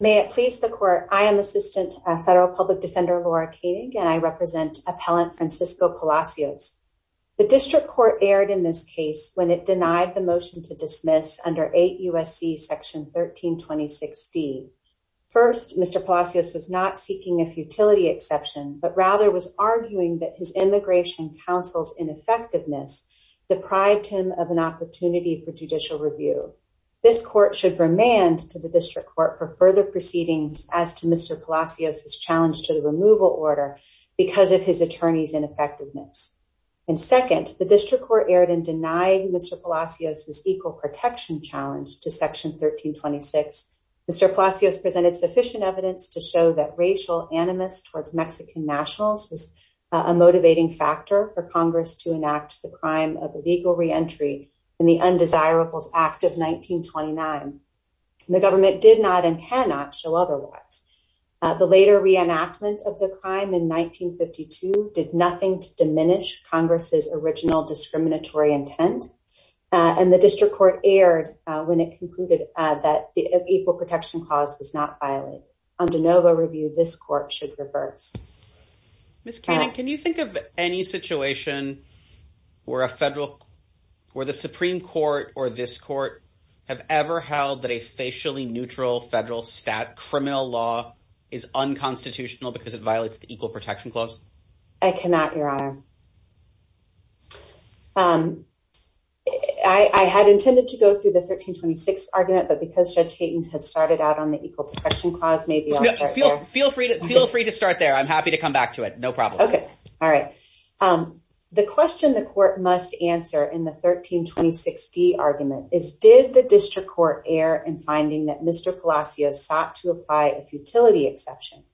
May it please the court. I am Assistant Federal Public Defender Laura Koenig, and I represent Appellant Francisco Palacios. The District Court erred in this case when it denied the motion to dismiss under 8 U.S.C. Section 1326d. First, Mr. Palacios was not seeking a futility exception, but rather was arguing that his Immigration Council's ineffectiveness deprived him of an proceedings as to Mr. Palacios' challenge to the removal order because of his attorney's ineffectiveness. And second, the District Court erred in denying Mr. Palacios' equal protection challenge to Section 1326. Mr. Palacios presented sufficient evidence to show that racial animus towards Mexican nationals is a motivating factor for Congress to enact the crime of illegal reentry in the Undesirables Act of 1929. The government did not and cannot show otherwise. The later reenactment of the crime in 1952 did nothing to diminish Congress's original discriminatory intent, and the District Court erred when it concluded that the equal protection clause was not violated. Under NOVA review, this court should reverse. Ms. Koenig, can you think of any situation where the Supreme Court or this court have ever held that a facially neutral federal criminal law is unconstitutional because it violates the equal protection clause? I cannot, Your Honor. I had intended to go through the 1326 argument, but because Judge Haytens had started out on the equal protection clause, maybe I'll start there. Feel free to start there. I'm happy to come back to it. No problem. All right. The question the court must answer in the 1326D argument is, did the District Court err in finding that Mr. Palacios sought to apply a futility exception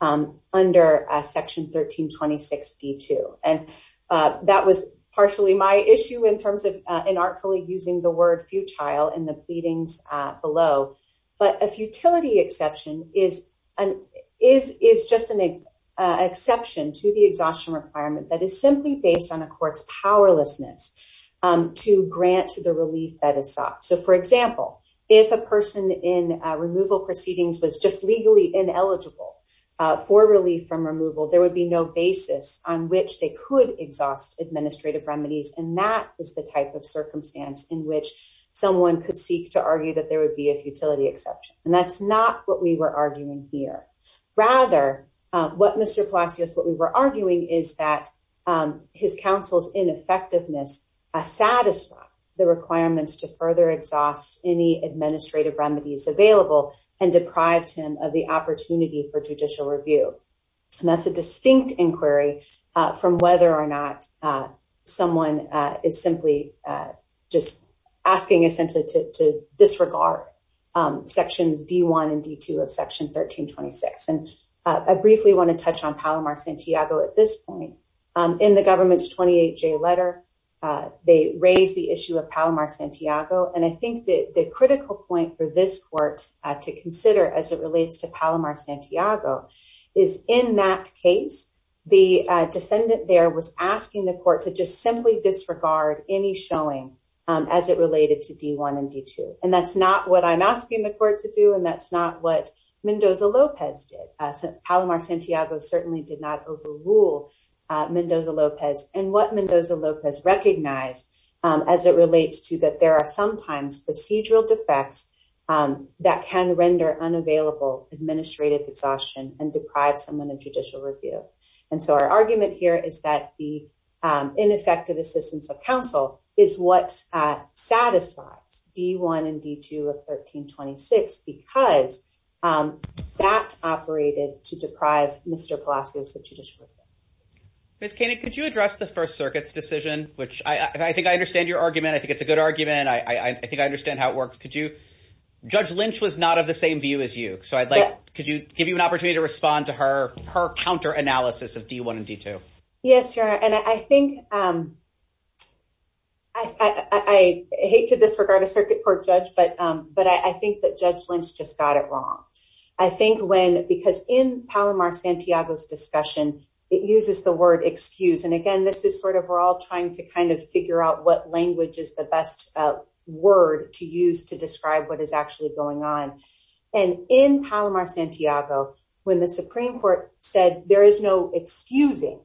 under Section 1326D-2? And that was partially my issue in terms of inartfully using the word futile in the pleadings below. But a futility exception is just an exception to the exhaustion requirement that is simply based on a court's powerlessness to grant to the relief that is sought. So, for example, if a person in removal proceedings was just legally ineligible for relief from removal, there would be no basis on which they could exhaust administrative remedies. And that is the type of circumstance in which someone could seek to argue that there would be a futility exception. And that's not what we were arguing here. Rather, what Mr. Palacios, what we were arguing is that his counsel's ineffectiveness satisfied the requirements to further exhaust any administrative remedies available and deprived him of the opportunity for judicial review. And that's a distinct inquiry from whether or not someone is simply just asking essentially to disregard Sections D-1 and D-2 of Section 1326. And I briefly want to touch on Palomar-Santiago at this point. In the government's 28J letter, they raise the issue of Palomar-Santiago. And I think that the critical point for this court to consider as it relates to Palomar-Santiago is in that case, the defendant there was asking the court to just simply disregard any showing as it related to D-1 and D-2. And that's not what I'm asking the court to do. And that's not what Mendoza-Lopez did. Palomar-Santiago certainly did not overrule Mendoza-Lopez. And what Mendoza-Lopez recognized as it relates to that are sometimes procedural defects that can render unavailable administrative exhaustion and deprive someone of judicial review. And so our argument here is that the ineffective assistance of counsel is what satisfies D-1 and D-2 of 1326 because that operated to deprive Mr. Palacios of judicial review. Ms. Koenig, could you address the First Circuit's decision, which I think I understand your argument. I think it's a good argument. I think I understand how it works. Could you? Judge Lynch was not of the same view as you. So I'd like, could you give you an opportunity to respond to her counter analysis of D-1 and D-2? Yes, Your Honor. And I hate to disregard a Circuit Court judge, but I think that Judge Lynch just got it wrong. I think when, because in Palomar-Santiago's discussion, it uses the word excuse. And again, this is sort of, we're all trying to kind of figure out which language is the best word to use to describe what is actually going on. And in Palomar-Santiago, when the Supreme Court said there is no excusing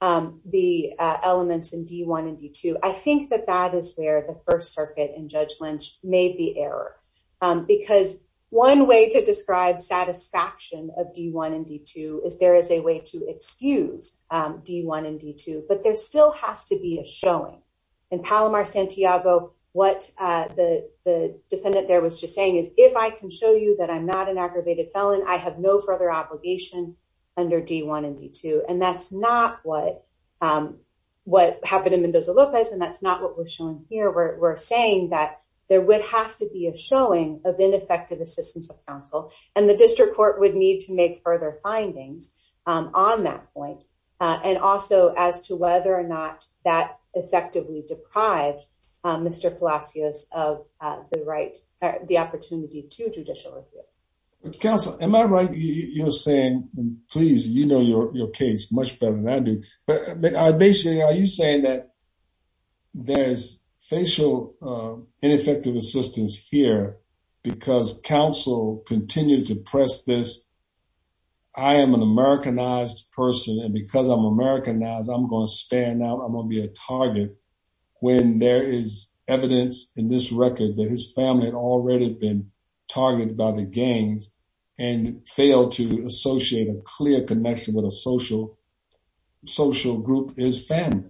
the elements in D-1 and D-2, I think that that is where the First Circuit and Judge Lynch made the error. Because one way to describe satisfaction of D-1 and D-2 is there is a way to excuse D-1 and D-2, but there still has to be a showing. In Palomar-Santiago, what the defendant there was just saying is, if I can show you that I'm not an aggravated felon, I have no further obligation under D-1 and D-2. And that's not what happened in Mendoza-Lopez, and that's not what we're showing here. We're saying that there would have to be a showing of ineffective assistance of counsel, and the District Court would need to make further findings on that point, and also as to whether or not that effectively deprived Mr. Palacios of the right, the opportunity to judicial review. Counsel, am I right, you're saying, please, you know your case much better than I do, but basically are you saying that there's facial ineffective assistance here because counsel continues to press this, I am an Americanized person, and because I'm Americanized, I'm going to stand out, I'm going to be a target, when there is evidence in this record that his family had already been targeted by the gangs and failed to associate a clear connection with a social group, his family?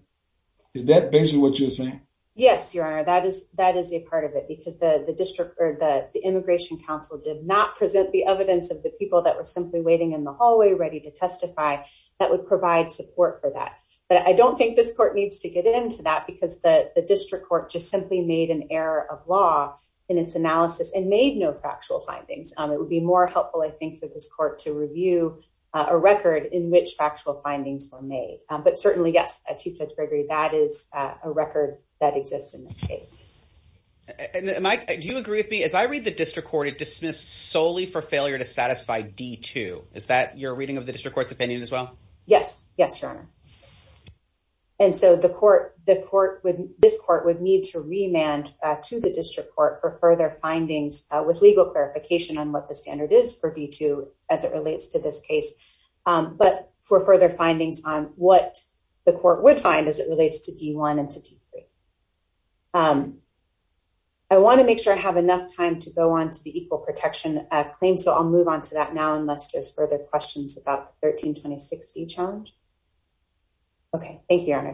Is that basically what you're saying? Yes, Your Honor, that is a part of it, because the Immigration Counsel did not present the evidence of the people that were simply waiting in the hallway ready to testify that would provide support for that. But I don't think this court needs to get into that because the District Court just simply made an error of law in its analysis and made no factual findings. It would be more helpful, I think, for this court to review a record in which factual findings were made. But certainly, yes, Chief Judge Gregory, that is a record that exists in this case. Mike, do you agree with me? As I read the District Court, it dismissed solely for failure to satisfy D-2. Is that your reading of the District Court's opinion as well? Yes. Yes, Your Honor. And so the court, this court would need to remand to the District Court for further findings with legal clarification on what the standard is for D-2 as it relates to this case. But for further findings on what the court would find as it relates to D-1 and to D-3. I want to make sure I have enough time to go on to the Equal Protection claim, so I'll move on to that now unless there's further questions about the 13-2060 challenge. Okay, thank you, Your Honor.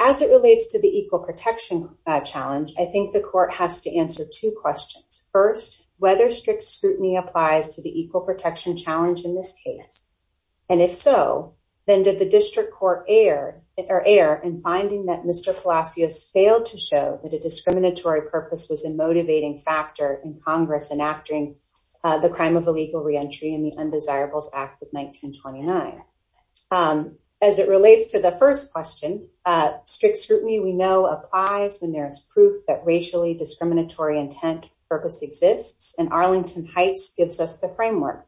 As it relates to the Equal Protection challenge, I think the court has to answer two questions. First, whether strict scrutiny applies to the Equal Protection challenge in this case. And if so, then did the District Court err in finding that Mr. Palacios failed to show that a discriminatory purpose was a motivating factor in Congress enacting the crime of illegal reentry in the Undesirables Act of 1929? As it relates to the first question, strict scrutiny we know applies when there is proof that racially discriminatory intent purpose exists, and Arlington Heights gives us the framework.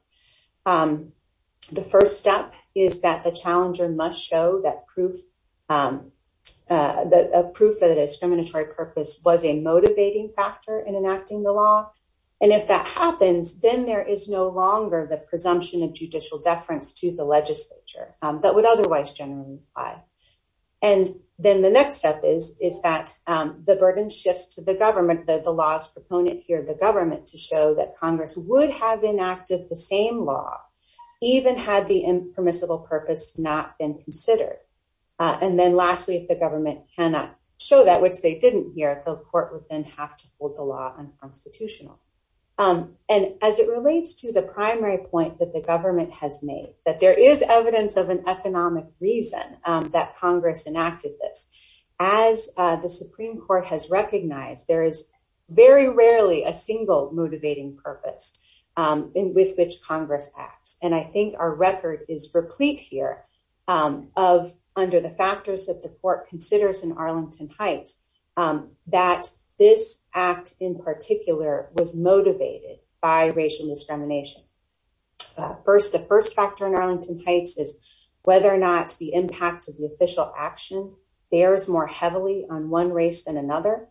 The first step is that the challenger must show that proof that a discriminatory purpose was a motivating factor in enacting the law. And if that happens, then there is no longer the presumption of judicial deference to the legislature that would otherwise generally apply. And then the next step is that the burden shifts to the government, that the law's proponent here, the government, to show that Congress would have enacted the same law, even had the impermissible purpose not been considered. And then lastly, if the government cannot show that, which they didn't here, the court would then have to hold the law unconstitutional. And as it relates to the primary point that the government has made, that there is evidence of an economic reason that Congress enacted this. As the Supreme Court has recognized, there is very rarely a single motivating purpose with which Congress acts. And I think our record is replete here of, under the factors that the court considers in Arlington Heights, that this act in particular was motivated by racial discrimination. First, the first factor in Arlington Heights is whether or not the impact of the official action bears more heavily on one race than another.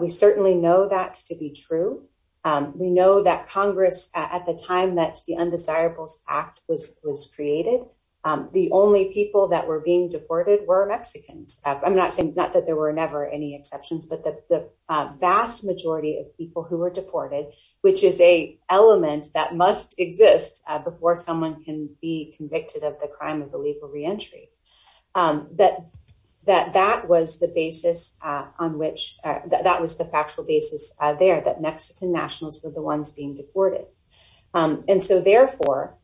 We certainly know that to be true. We know that Congress, at the time that the Undesirables Act was created, the only people that were being deported were Mexicans. I'm not saying, not that there were never any exceptions, but the vast majority of people who were deported, which is a element that that was the basis on which, that was the factual basis there, that Mexican nationals were the ones being deported. And so therefore,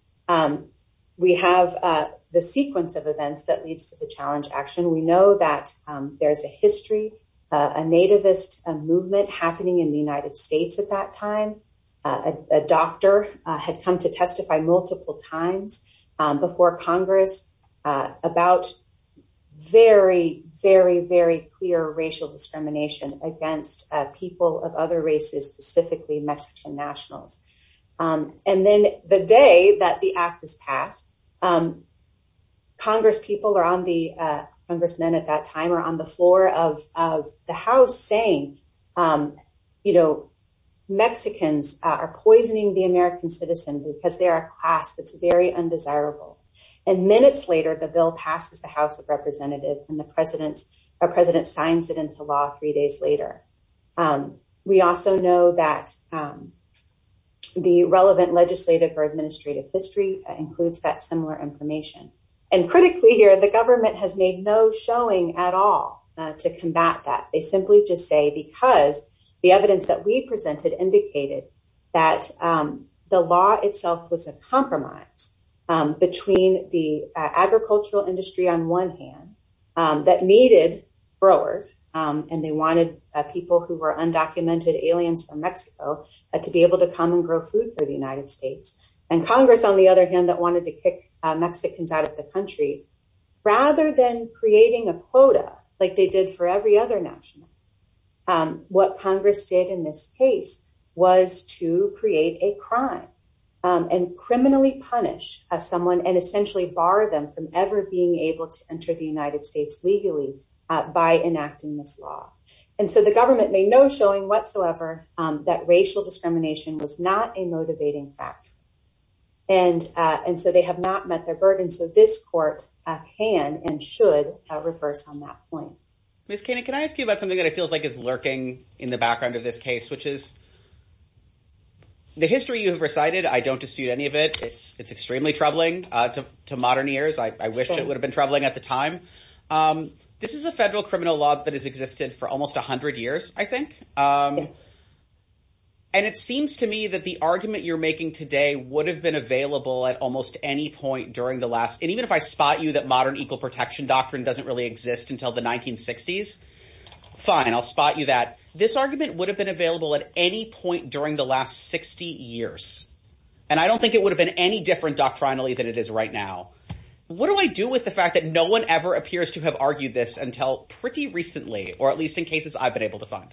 we have the sequence of events that leads to the challenge action. We know that there's a history, a nativist movement happening in the United States at that very, very, very clear racial discrimination against people of other races, specifically Mexican nationals. And then the day that the act is passed, Congress people are on the, Congressmen at that time are on the floor of the House saying, you know, Mexicans are poisoning the American citizen because they're a class that's very undesirable. And minutes later, the bill passes the House of Representatives and the president, our president signs it into law three days later. We also know that the relevant legislative or administrative history includes that similar information. And critically here, the government has made no showing at all to combat that. They simply just say, because the evidence that we presented indicated that the law itself was a compromise between the agricultural industry on one hand, that needed growers, and they wanted people who were undocumented aliens from Mexico to be able to come and grow food for the United States. And Congress, on the other hand, that wanted to kick Mexicans out of the country, rather than creating a quota, like they did for every other national, what Congress did in this case was to create a crime and criminally punish someone and essentially bar them from ever being able to enter the United States legally by enacting this law. And so the government made no showing whatsoever that racial discrimination was not a motivating fact. And, and so they have not met their burden. So this court can and should reverse on that point. Miss Kane, can I ask you about something that it feels like is lurking in the background of this case, which is the history you have recited. I don't dispute any of it. It's, it's extremely troubling to modern years. I wish it would have been troubling at the time. This is a federal criminal law that has existed for almost a hundred years, I think. And it seems to me that the argument you're making today would have been available at almost any point during the last. And even if I spot you that modern equal protection doctrine doesn't really exist until the 1960s, fine. I'll spot you that this argument would have been available at any point during the last 60 years. And I don't think it would have been any different doctrinally than it is right now. What do I do with the fact that no one ever appears to have argued this until pretty recently, or at least in cases I've been able to find.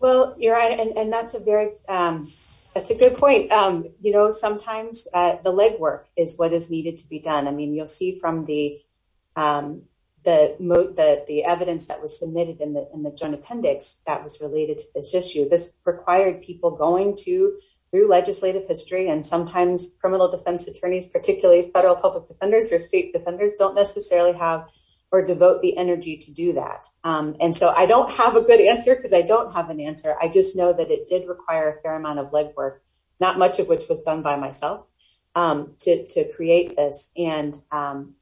Well, you're right. And that's a very, um, that's a good point. Um, you know, sometimes, uh, the legwork is what is needed to be done. I mean, you'll see from the, um, the moat that the evidence that was submitted in the, in the joint appendix that was related to this issue, this required people going to through legislative history, and sometimes criminal defense attorneys, particularly federal public defenders or state defenders don't necessarily have or devote the energy to do that. Um, and so I don't have a good answer because I don't have an answer. I just know that it did require a fair amount of legwork, not much of which was done by myself, um, to, to create this. And, um,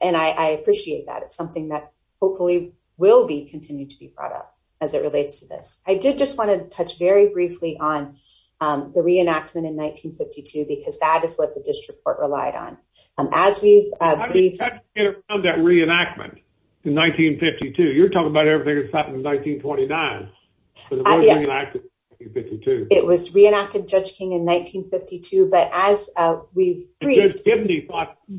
and I, I appreciate that. It's something that hopefully will be continued to be brought up as it relates to this. I did just want to touch very briefly on, um, the reenactment in 1952, because that is what the district court relied on. Um, as we've, uh, we've had to get around that reenactment in 1952, you're talking about everything that's 52. It was reenacted Judge King in 1952. But as we've given the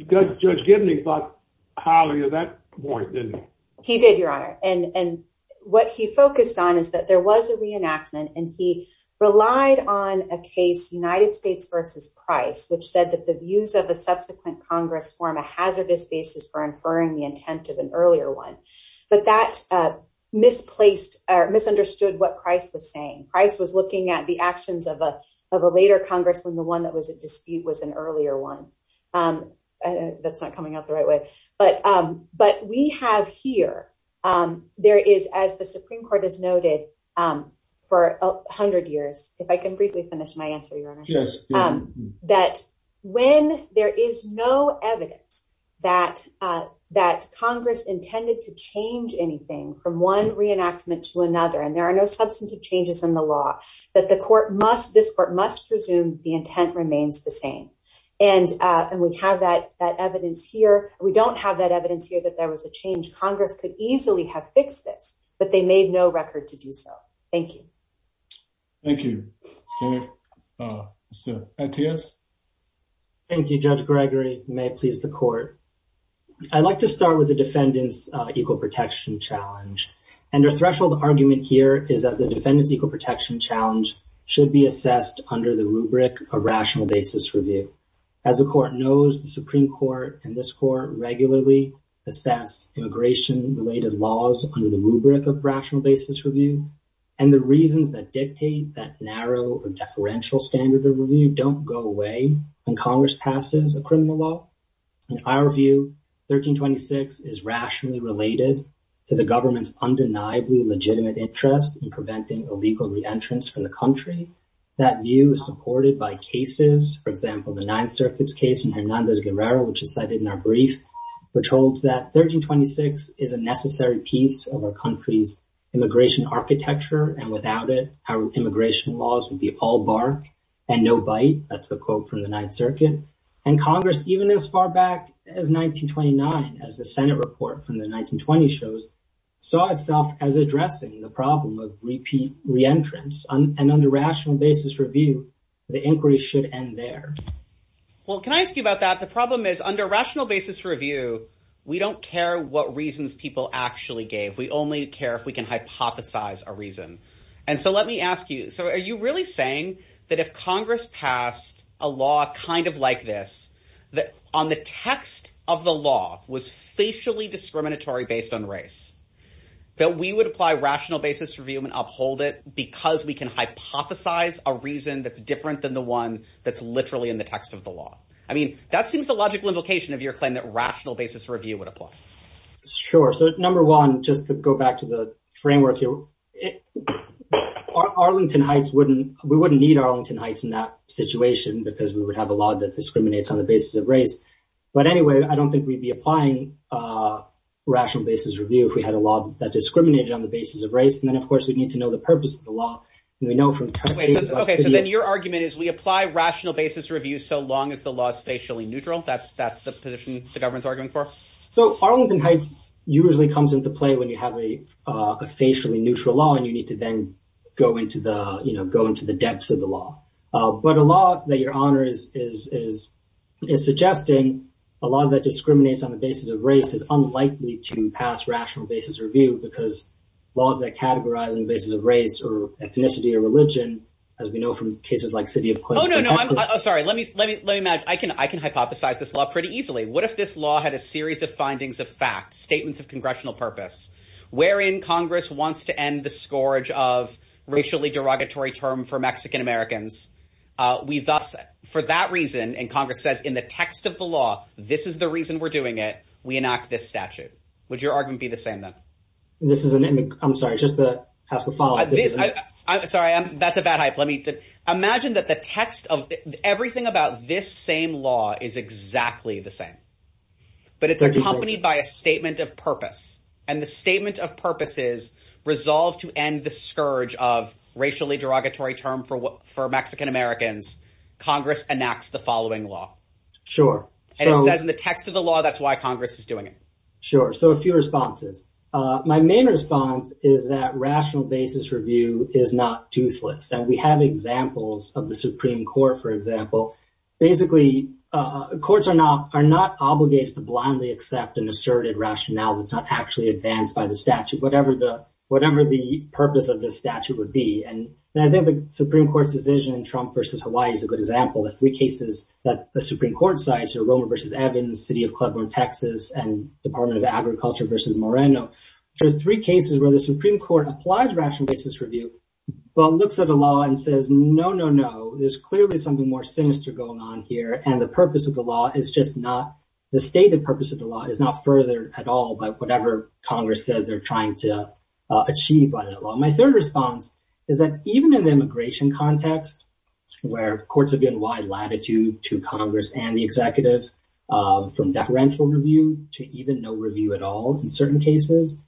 judge, Judge Gibney thought highly of that point, didn't he? Did your honor. And what he focused on is that there was a reenactment and he relied on a case United States versus price, which said that the views of the subsequent Congress form a hazardous basis for inferring the intent of an earlier one. But that, uh, misplaced or misunderstood what price was saying. Price was looking at the actions of a, of a later Congress when the one that was at dispute was an earlier one. Um, that's not coming out the right way, but, um, but we have here, um, there is, as the Supreme court has noted, um, for a hundred years, if I can briefly finish my answer, your from one reenactment to another, and there are no substantive changes in the law that the court must, this court must presume the intent remains the same. And, uh, and we have that, that evidence here. We don't have that evidence here that there was a change. Congress could easily have fixed this, but they made no record to do so. Thank you. Thank you. Uh, so yes. Thank you. Judge challenge. And our threshold argument here is that the defendants equal protection challenge should be assessed under the rubric of rational basis review. As the court knows the Supreme court and this court regularly assess immigration related laws under the rubric of rational basis review. And the reasons that dictate that narrow or deferential standard of review don't go away when Congress passes a criminal law. In our view, 1326 is rationally related to the government's undeniably legitimate interest in preventing illegal reentrance from the country. That view is supported by cases. For example, the ninth circuits case in Hernandez Guerrero, which is cited in our brief, which holds that 1326 is a necessary piece of our country's immigration architecture. And without it, our immigration laws would be all bark and no bite. That's the quote from the ninth circuit and Congress, even as far back as 1929, as the Senate report from the 1920 shows saw itself as addressing the problem of repeat reentrance and under rational basis review, the inquiry should end there. Well, can I ask you about that? The problem is under rational basis review. We don't care what reasons people actually gave. We only care if we can hypothesize a reason. And so let me ask you, so are you really saying that if Congress passed a law kind of like this, that on the text of the law was facially discriminatory based on race, that we would apply rational basis review and uphold it because we can hypothesize a reason that's different than the one that's literally in the text of the law? I mean, that seems the logical implication of your claim that rational basis review would apply. Sure. So number one, just to go back to the Arlington Heights, we wouldn't need Arlington Heights in that situation because we would have a law that discriminates on the basis of race. But anyway, I don't think we'd be applying rational basis review if we had a law that discriminated on the basis of race. And then, of course, we'd need to know the purpose of the law. And we know from. Okay, so then your argument is we apply rational basis review so long as the law is facially neutral. That's the position the government's arguing for. So Arlington Heights usually comes into play when you have a facially neutral law and you need to then go into the, you know, go into the depths of the law. But a law that your honor is suggesting, a law that discriminates on the basis of race is unlikely to pass rational basis review because laws that categorize on the basis of race or ethnicity or religion, as we know from cases like City of Clinton. Oh, no, no. I'm sorry. Let me imagine. I can hypothesize this law pretty easily. What if this law had a series of findings of fact, statements of congressional purpose, wherein Congress wants to end the scourge of racially derogatory term for Mexican Americans? We thus for that reason, and Congress says in the text of the law, this is the reason we're doing it. We enact this statute. Would your argument be the same, then? This is an image. I'm sorry. Just to ask about this. Sorry. That's a bad hype. Let me imagine that the text of everything about this same law is exactly the same. But it's accompanied by a statement of purpose and the statement of purposes resolved to end the scourge of racially derogatory term for what for Mexican Americans. Congress enacts the following law. Sure. And it says in the text of the law, that's why Congress is doing it. Sure. So a few responses. My main response is that rational basis review is not of the Supreme Court, for example. Basically, courts are not are not obligated to blindly accept an asserted rationale that's not actually advanced by the statute, whatever the purpose of the statute would be. And I think the Supreme Court's decision in Trump versus Hawaii is a good example. The three cases that the Supreme Court cites are Romer versus Evans, city of Cleveland, Texas, and Department of Agriculture versus Moreno. There are three cases where the no, no, no. There's clearly something more sinister going on here. And the purpose of the law is just not the stated purpose of the law is not further at all by whatever Congress says they're trying to achieve by that law. My third response is that even in the immigration context, where courts have been wide latitude to Congress and the executive from deferential review to even no review at all in certain cases,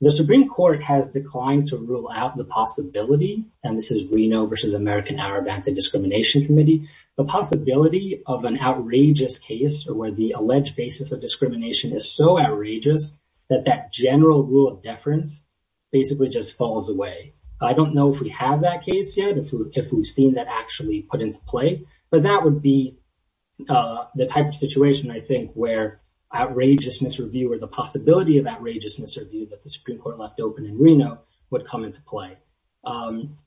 the Supreme Court has declined to rule out the possibility. And this is Reno versus American Arab Anti-Discrimination Committee. The possibility of an outrageous case or where the alleged basis of discrimination is so outrageous that that general rule of deference basically just falls away. I don't know if we have that case yet, if we've seen that actually put into play, but that would be the type of situation, I think, where outrageousness review or the possibility of outrageousness review that the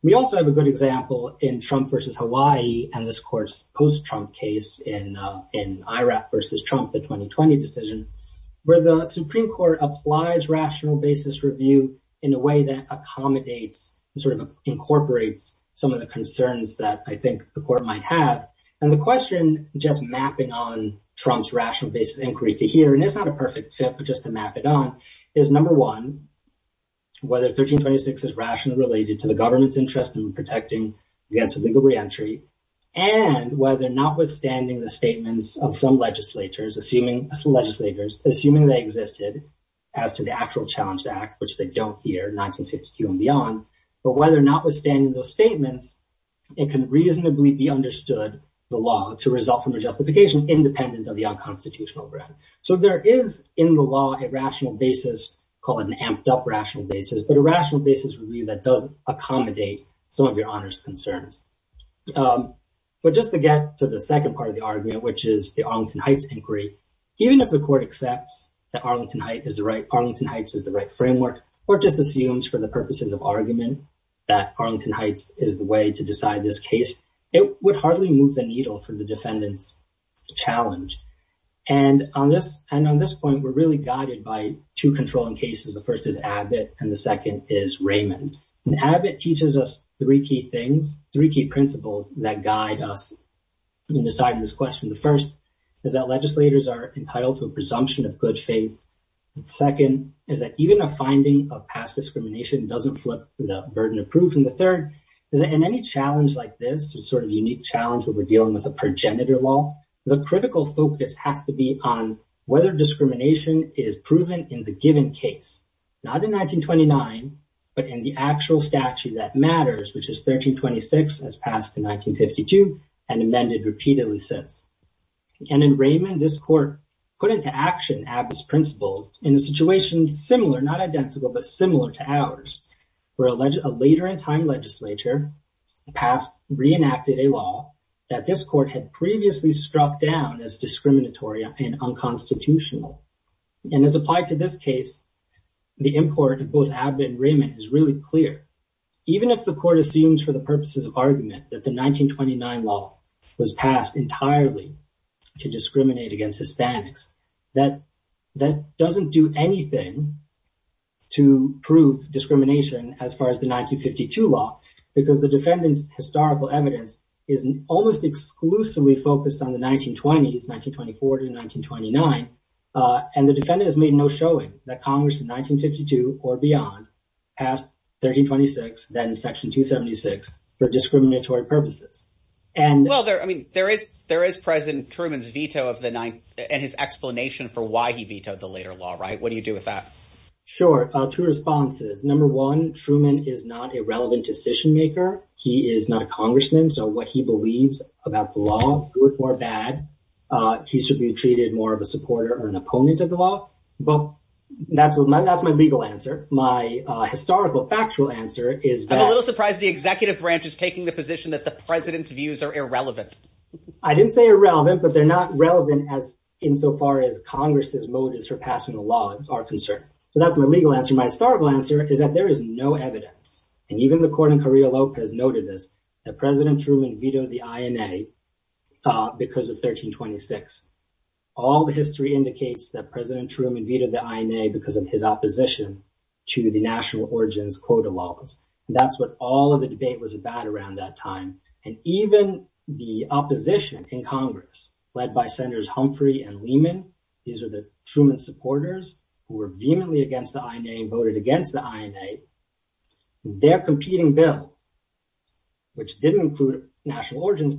we also have a good example in Trump versus Hawaii and this court's post-Trump case in IRAC versus Trump, the 2020 decision where the Supreme Court applies rational basis review in a way that accommodates sort of incorporates some of the concerns that I think the court might have. And the question just mapping on Trump's rational basis inquiry to here, and it's not a perfect fit, but just to map it on is number one, whether 1326 is rationally related to the government's interest in protecting against a legal re-entry and whether or not withstanding the statements of some legislators, assuming legislators, assuming they existed as to the actual challenge to act, which they don't here 1952 and beyond, but whether or not withstanding those statements, it can reasonably be understood the law to result from a justification independent of the unconstitutional ground. So there is in the law, a rational basis, call it an amped up rational basis, but a rational basis review that does accommodate some of your honors concerns. But just to get to the second part of the argument, which is the Arlington Heights inquiry, even if the court accepts that Arlington Heights is the right framework, or just assumes for the purposes of argument that Arlington Heights is the way to decide this case, it would hardly move the needle for the defendant's challenge. And on this point, we're really guided by two controlling cases. The first is Abbott and the second is Raymond. And Abbott teaches us three key things, three key principles that guide us in deciding this question. The first is that legislators are entitled to a presumption of good faith. The second is that even a finding of past discrimination doesn't flip the burden of proof. And the third is that in any challenge like this, a sort of unique challenge where we're dealing with a progenitor law, the critical focus has to be on whether discrimination is proven in the given case, not in 1929, but in the actual statute that matters, which is 1326 as passed in 1952 and amended repeatedly since. And in Raymond, this court put into action Abbott's principles in a situation similar, not identical, but similar to ours, where a later in time legislature reenacted a law that this court had previously struck down as discriminatory and unconstitutional. And as applied to this case, the import of both Abbott and Raymond is really clear. Even if the court assumes for the purposes of argument that the 1929 law was passed entirely to discriminate against Hispanics, that doesn't do anything to prove discrimination as far as the 1952 law, because the defendant's historical evidence is almost exclusively focused on the 1920s, 1924 to 1929. And the defendant has made no showing that Congress in 1952 or beyond passed 1326, then section 276 for discriminatory purposes. Well, I mean, there is President Truman's veto and his explanation for why he vetoed the later law, right? What do you do with that? Sure. Two responses. Number one, Truman is not a about the law, good or bad. He should be treated more of a supporter or an opponent of the law. But that's my legal answer. My historical factual answer is that I'm a little surprised the executive branch is taking the position that the president's views are irrelevant. I didn't say irrelevant, but they're not relevant as insofar as Congress's motives for passing the law are concerned. So that's my legal answer. My historical answer is that there is no evidence, and even the court in Carrillo Lopez noted this, that President Truman vetoed the INA because of 1326. All the history indicates that President Truman vetoed the INA because of his opposition to the national origins quota laws. That's what all of the debate was about around that time. And even the opposition in Congress led by Senators Humphrey and Lehman, these are Truman supporters who were vehemently against the INA and voted against the INA. Their competing bill, which didn't include national origins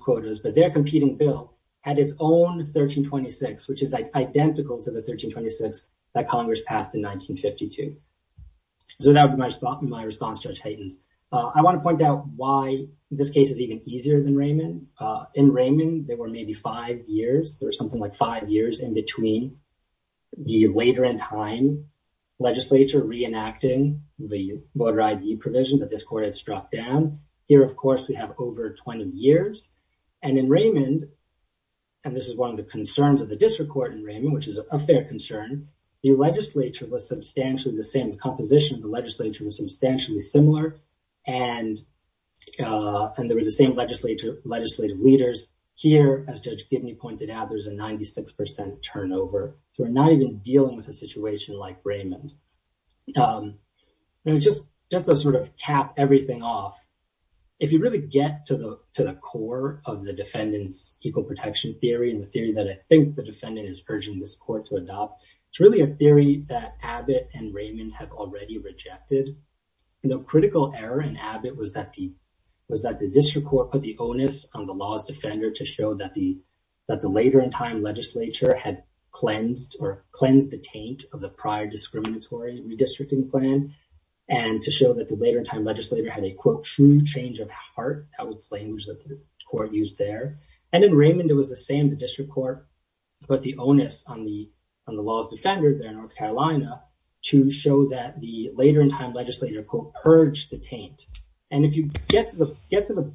quotas, but their competing bill had its own 1326, which is identical to the 1326 that Congress passed in 1952. So that would be my response, Judge Haydens. I want to point out why this case is even easier than Raymond. In Raymond, there were maybe five years, there was something like five years in between the later in time legislature reenacting the voter ID provision that this court had struck down. Here, of course, we have over 20 years. And in Raymond, and this is one of the concerns of the district court in Raymond, which is a fair concern, the legislature was substantially the legislative leaders. Here, as Judge Gibney pointed out, there's a 96% turnover. So we're not even dealing with a situation like Raymond. Just to sort of cap everything off, if you really get to the core of the defendant's equal protection theory and the theory that I think the defendant is urging this court to adopt, it's really a theory that Abbott and Raymond have already rejected. The critical error in Abbott was that the district court put the onus on the law's defender to show that the later in time legislature had cleansed or cleansed the taint of the prior discriminatory redistricting plan. And to show that the later in time legislature had a, quote, true change of heart, I would claim that the court used there. And in Raymond, it was the same, the district court put the onus on the law's defender there in North Carolina to show that the later in time legislature, quote, purged the taint. And if you get to the...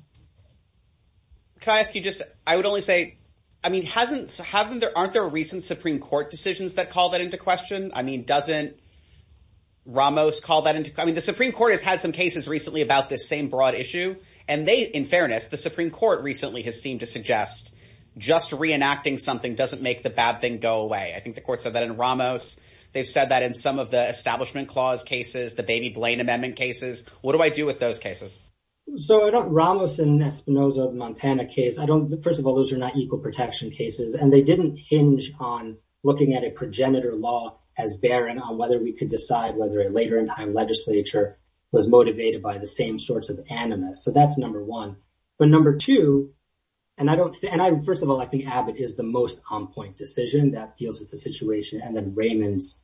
Can I ask you just, I would only say, I mean, aren't there recent Supreme Court decisions that call that into question? I mean, doesn't Ramos call that into... I mean, the Supreme Court has had some cases recently about this same broad issue. And they, in fairness, the Supreme Court recently has seemed to suggest just reenacting something doesn't make the bad thing go away. I think the court said that in Ramos. They've said that in some of the establishment clause cases, the baby Blaine Amendment cases. What do I do with those cases? So I don't... Ramos and Espinoza of Montana case, I don't... First of all, those are not equal protection cases. And they didn't hinge on looking at a progenitor law as barren on whether we could decide whether a later in time legislature was motivated by the same sorts of animus. So that's number one. But number two, and I don't... And first of all, I think Abbott is the most on point decision that deals with the situation. And then Raymond's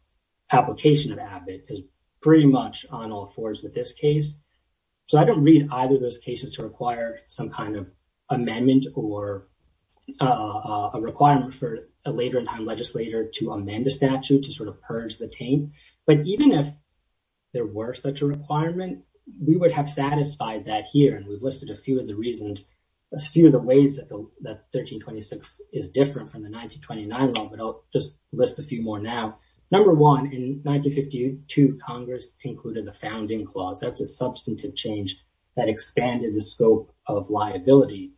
application of Abbott is pretty much on all fours with this case. So I don't read either of those cases to require some kind of amendment or a requirement for a later in time legislator to amend the statute to sort of purge the taint. But even if there were such a requirement, we would have satisfied that here. And we've listed a few of the reasons, a few of the ways that 1326 is different from the 1929 law, but I'll just list a few more now. Number one, in 1952, Congress included the founding clause. That's a substantive change that expanded the scope of liability,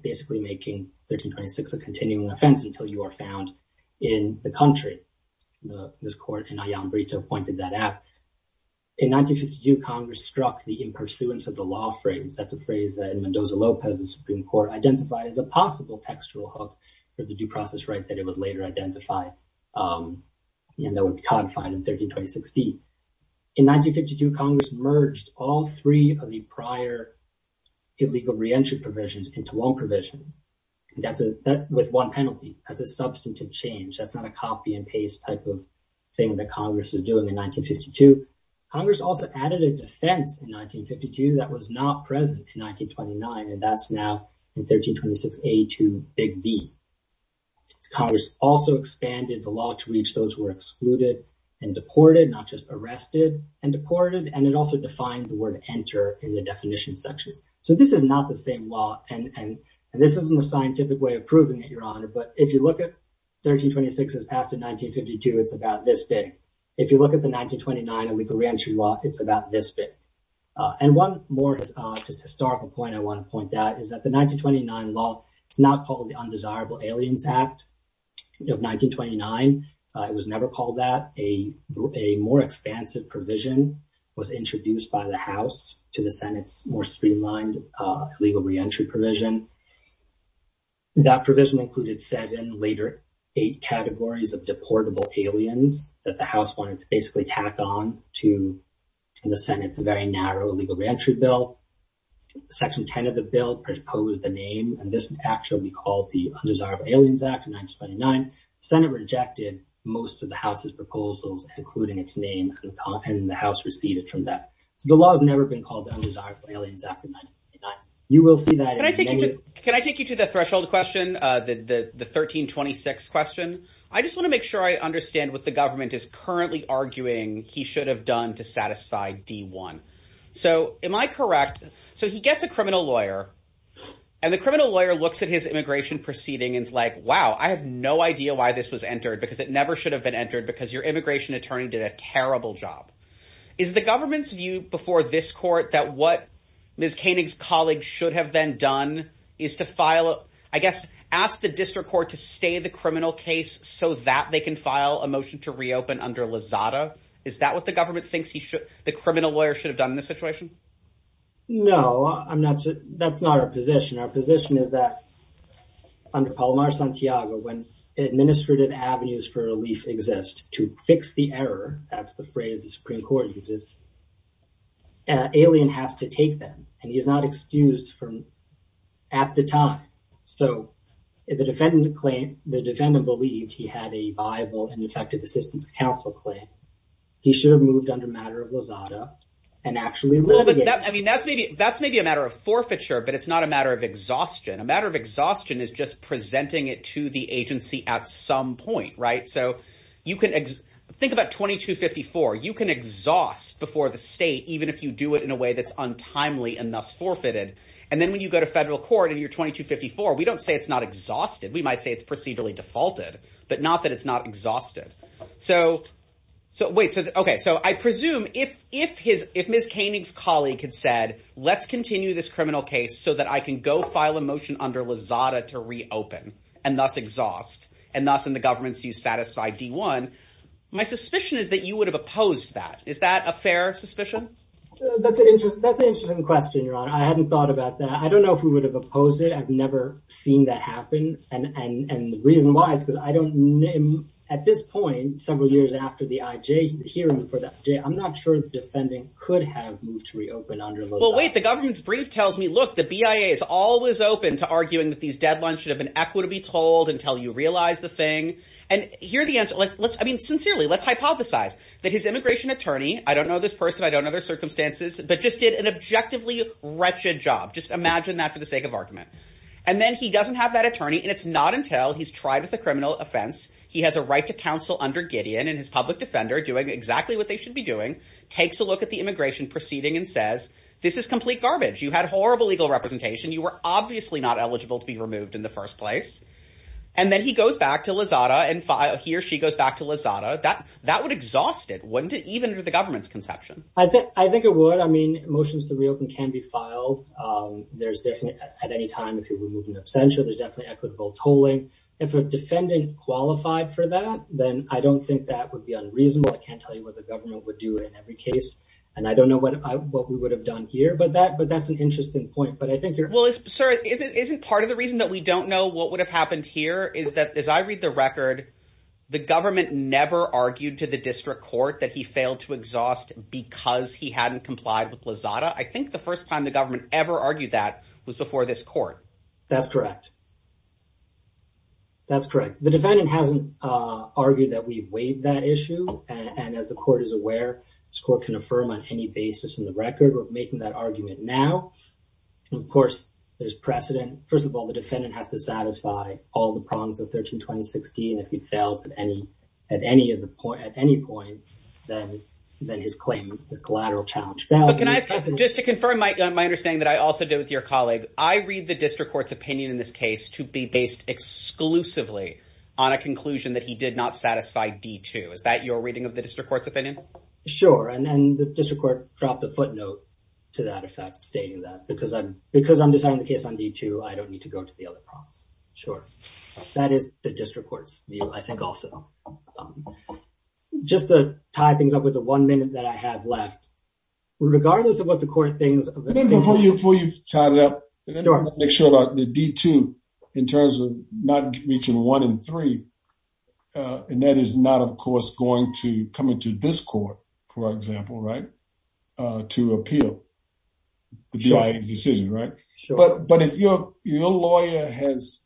basically making 1326 a continuing offense until you are found in the country. This court in Alhambra pointed that out. In 1952, Congress struck the impersuance of the law phrase. That's a phrase that in Mendoza-Lopez, the Supreme Court identified as a possible textual hook for the due process right that it would later identify and that would be codified in 1326D. In 1952, Congress merged all three of the prior illegal re-entry provisions into one provision. That's with one penalty. That's a substantive change. That's not a copy and paste type of thing that Congress is doing in 1952. Congress also added a defense in 1952 that was not present in 1929, and that's now in 1326A to Big B. Congress also expanded the law to reach those who were excluded and deported, not just arrested and deported, and it also defined the word enter in the definition sections. So this is not the same law, and this isn't a scientific way of proving it, Your Honor, but if you look at 1929 illegal re-entry law, it's about this big. And one more just historical point I want to point out is that the 1929 law is not called the Undesirable Aliens Act of 1929. It was never called that. A more expansive provision was introduced by the House to the Senate's more streamlined illegal re-entry provision. That provision included seven, later eight, categories of deportable aliens that the House wanted to basically tack on to the Senate's very narrow illegal re-entry bill. Section 10 of the bill proposed the name, and this was actually called the Undesirable Aliens Act of 1929. The Senate rejected most of the House's proposals, including its name, and the House receded from that. So the law has never been called the Undesirable Aliens Act of 1929. You will see that. Can I take you to the threshold question, the 1326 question? I just want to make sure I understand what the government is currently arguing he should have done to satisfy D1. So am I correct? So he gets a criminal lawyer, and the criminal lawyer looks at his immigration proceeding and is like, wow, I have no idea why this was entered because it never should have been entered because your immigration attorney did a terrible job. Is the government's view before this court that what Ms. Koenig's colleagues should have then done is to file, I guess, ask the district court to stay the criminal case so that they can file a motion to reopen under Lozada? Is that what the government thinks the criminal lawyer should have done in this situation? No, that's not our position. Our position is that under Palomar Santiago, when administrative avenues for relief exist to fix the error, that's the phrase the Supreme Court uses, Alien has to take them, and he's not excused at the time. So the defendant claimed, the defendant believed he had a viable and effective assistance counsel claim. He should have moved under matter of Lozada and actually- Well, but that, I mean, that's maybe a matter of forfeiture, but it's not a matter of exhaustion. A matter of exhaustion is just presenting it to the agency at some point, right? So you can, think about 2254, you can exhaust before the state, even if you do it in a way that's untimely and thus forfeited. And then when you go to federal court in your 2254, we don't say it's not exhausted. We might say it's procedurally defaulted, but not that it's not exhausted. So wait, so, okay. So I presume if Ms. Koenig's colleague had said, let's continue this criminal case so that I can go file a motion under Lozada to reopen and thus exhaust, and thus in the government's view, satisfy D1, my suspicion is that you would have opposed that. Is that a fair suspicion? That's an interesting question, Your Honor. I hadn't thought about that. I don't know if we would have opposed it. I've never seen that happen. And the reason why is because I don't, at this point, several years after the IJ hearing for that, I'm not sure the defendant could have moved to reopen under Lozada. Well, wait, the government's brief tells me, look, the BIA is always open to arguing that these deadlines should have been equitably told until you realize the thing. And here are the answers. I mean, sincerely, let's hypothesize that his immigration attorney, I don't know this person, I don't know their circumstances, but just did an objectively wretched job. Just imagine that for the sake of argument. And then he doesn't have that attorney, and it's not until he's tried with a criminal offense, he has a right to counsel under Gideon and his public defender doing exactly what they should be doing, takes a look at the immigration proceeding and says, this is complete garbage. You had horrible legal representation. You were obviously not eligible to be removed in the first place. And then he goes back to Lozada and he or she goes back to Lozada. That would exhaust it, wouldn't it, even under the government's conception? I think it would. I mean, motions to reopen can be filed. There's definitely, at any time, if you're removing an absentia, there's definitely equitable tolling. If a defendant qualified for that, then I don't think that would be unreasonable. I can't tell you what the government would do in every case. And I don't know what we would have done here, but that's an interesting point. Sir, isn't part of the reason that we don't know what would have happened here is that, as I read the record, the government never argued to the district court that he failed to exhaust because he hadn't complied with Lozada. I think the first time the government ever argued that was before this court. That's correct. That's correct. The defendant hasn't argued that we waived that issue. And as the court is aware, this court can affirm on any basis in the record. We're making that argument now. Of course, there's precedent. First of all, the defendant has to satisfy all the prongs of 13-2016. If he fails at any point, then his claim is collateral challenge. But can I ask, just to confirm my understanding that I also did with your colleague, I read the district court's opinion in this case to be based exclusively on a conclusion that he did not satisfy D2. Is that your reading of the district court's opinion? Sure. And then the to that effect stating that because I'm deciding the case on D2, I don't need to go to the other prongs. Sure. That is the district court's view, I think also. Just to tie things up with the one minute that I have left, regardless of what the court thinks... Before you tie it up, make sure about the D2 in terms of not reaching one and three. And that is not, of course, coming to this court, for example, to appeal the decision. But if your lawyer has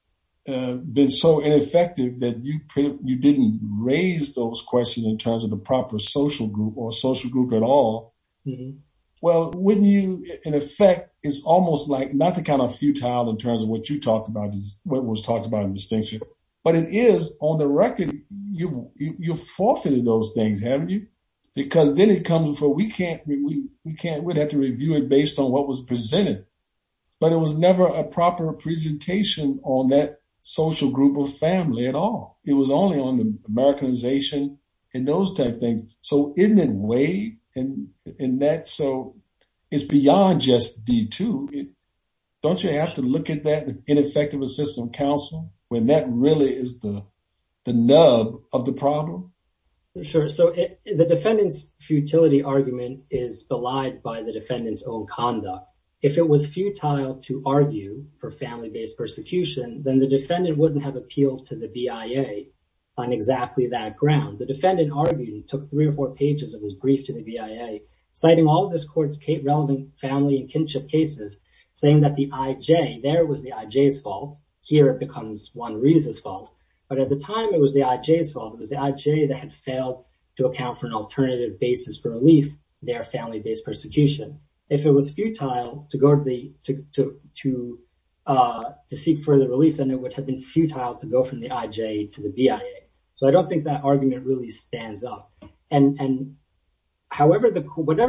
been so ineffective that you didn't raise those questions in terms of the proper social group or social group at all, well, wouldn't you, in effect, it's almost like not to count a futile in terms of what was talked about in distinction. But it is, on the record, you've forfeited those things, haven't you? Because then it comes before we can't... We'd have to review it based on what was presented. But it was never a proper presentation on that social group or family at all. It was only on the Americanization and those type things. So isn't it way in that? So it's beyond just D2. Don't you have to look at that in effective assistance counsel when that really is the nub of the problem? Sure. So the defendant's futility argument is belied by the defendant's own conduct. If it was futile to argue for family-based persecution, then the defendant wouldn't have appealed to the BIA on exactly that ground. The defendant argued and took three or four pages of his brief to the BIA, citing all of this court's relevant family and kinship cases, saying that the IJ, there it was the IJ's fault, here it becomes Juan Ruiz's fault. But at the time, it was the IJ's fault. It was the IJ that had failed to account for an alternative basis for relief, their family-based persecution. If it was futile to seek further relief, then it would have been futile to go from the IJ to the BIA. So I don't think that argument really stands up. And whatever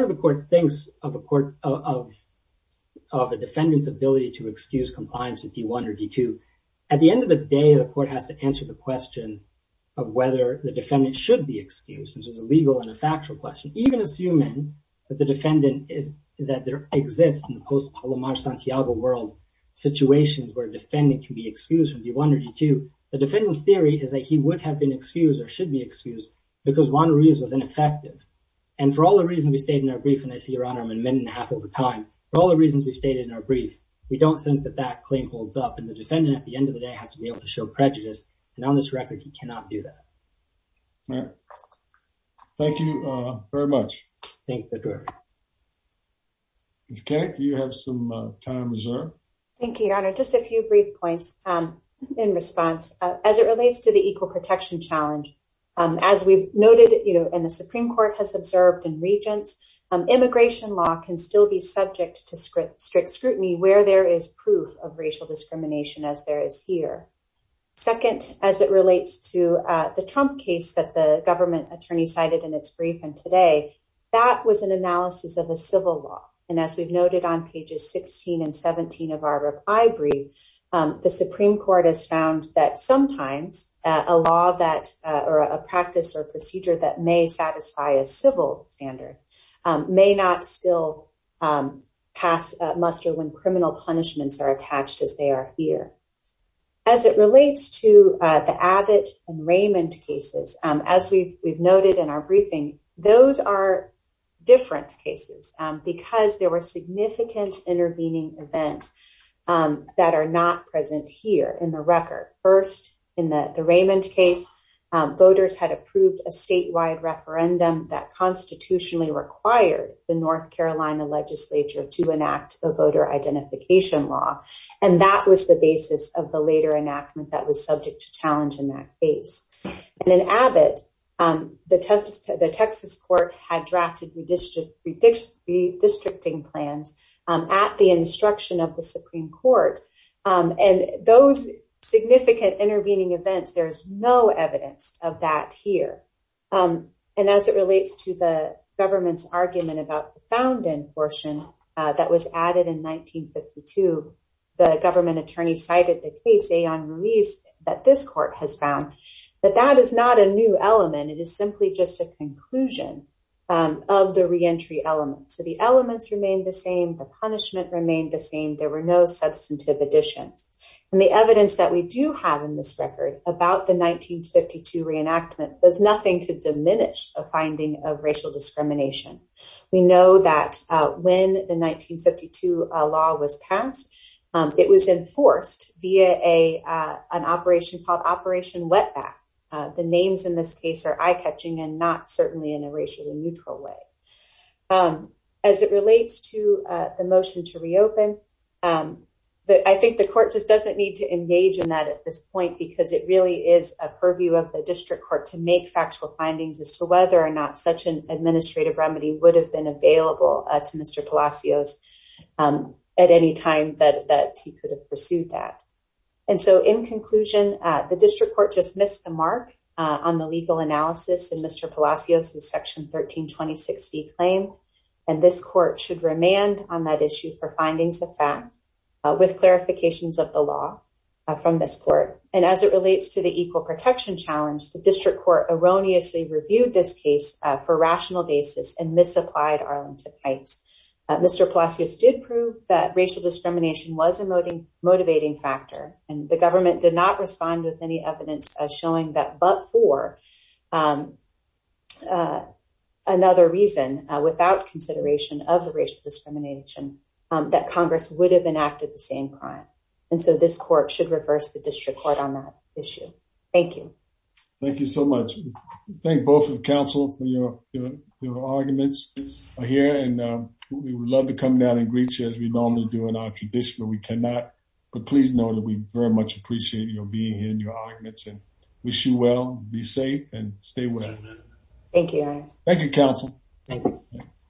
the court thinks of a defendant's ability to excuse compliance with D1 or D2, at the end of the day, the court has to answer the question of whether the defendant should be excused, which is a legal and a factual question. Even assuming that the defendant is, that there exists in the post-Palomar Santiago world, situations where a defendant can be excused from D1 or D2, the defendant's theory is that he would have been excused or should be excused because Juan Ruiz was ineffective. And for all the reasons we stated in our brief, and I see, Your Honor, I'm a minute and a half over time. For all the reasons we've stated in our brief, we don't think that that claim holds up. And the defendant, at the end of the day, has to be able to show prejudice. And on this record, he cannot do that. All right. Thank you very much. Thank you, Your Honor. Ms. Kay, do you have some time reserved? Thank you, Your Honor. Just a few brief points in response. As it relates to the equal protection challenge, as we've noted, you know, and the Supreme Court has observed in Regents, immigration law can still be subject to strict scrutiny where there is proof of racial discrimination as there is here. Second, as it relates to the Trump case that the government attorney cited in its brief and today, that was an analysis of the civil law. And as we've noted on pages 16 and 17 of our reply brief, the Supreme Court has found that sometimes a law that or a practice or procedure that may satisfy a civil standard may not still pass muster when criminal punishments are attached as they are here. As it relates to the Abbott and Raymond cases, as we've noted in our briefing, those are different cases because there were significant intervening events that are not present here in the record. First, in the Raymond case, voters had approved a statewide referendum that constitutionally required the North Carolina legislature to enact a voter identification law. And that was the basis of the later enactment that was subject to challenge in that case. And in Abbott, the Texas court had drafted redistricting plans at the instruction of the Supreme Court. And those significant intervening events, there's no evidence of that here. And as it relates to the government's argument about the found in portion that was added in 1952, the government attorney cited the case on release that this court has found that that is not a new element, it is simply just a conclusion of the reentry element. So the elements remain the same, the punishment remained the same, there were no substantive additions. And the evidence that we do have in this record about the 1952 reenactment does nothing to diminish a finding of racial discrimination. We know that when the 1952 law was passed, it was enforced via a an operation called Operation wetback. The names in this case are eye catching and not certainly in a racially neutral way. As it relates to the motion to reopen that I think the court just doesn't need to engage in that at this point, because it really is a purview of the district court to make factual findings as to whether or not such an administrative remedy would have been available to Mr. Palacios at any time that that he could have pursued that. And so in conclusion, the district court just missed the mark on the legal analysis and Mr. Palacios, the section 13 2060 claim. And this court should remand on that issue for findings of fact, with clarifications of the law from this court. And as it relates to the equal protection challenge, the district court erroneously reviewed this case for rational basis and misapplied Arlington Heights. Mr. Palacios did prove that racial discrimination was a motivating motivating factor, and the government did not respond with any evidence showing that but for another reason, without consideration of the discrimination that Congress would have enacted the same crime. And so this court should reverse the district court on that issue. Thank you. Thank you so much. Thank both of counsel for your arguments here. And we would love to come down and greet you as we normally do in our tradition, but we cannot. But please know that we very much appreciate your being here and your arguments and wish you well, be safe and stay well. Thank you. Thank you, counsel.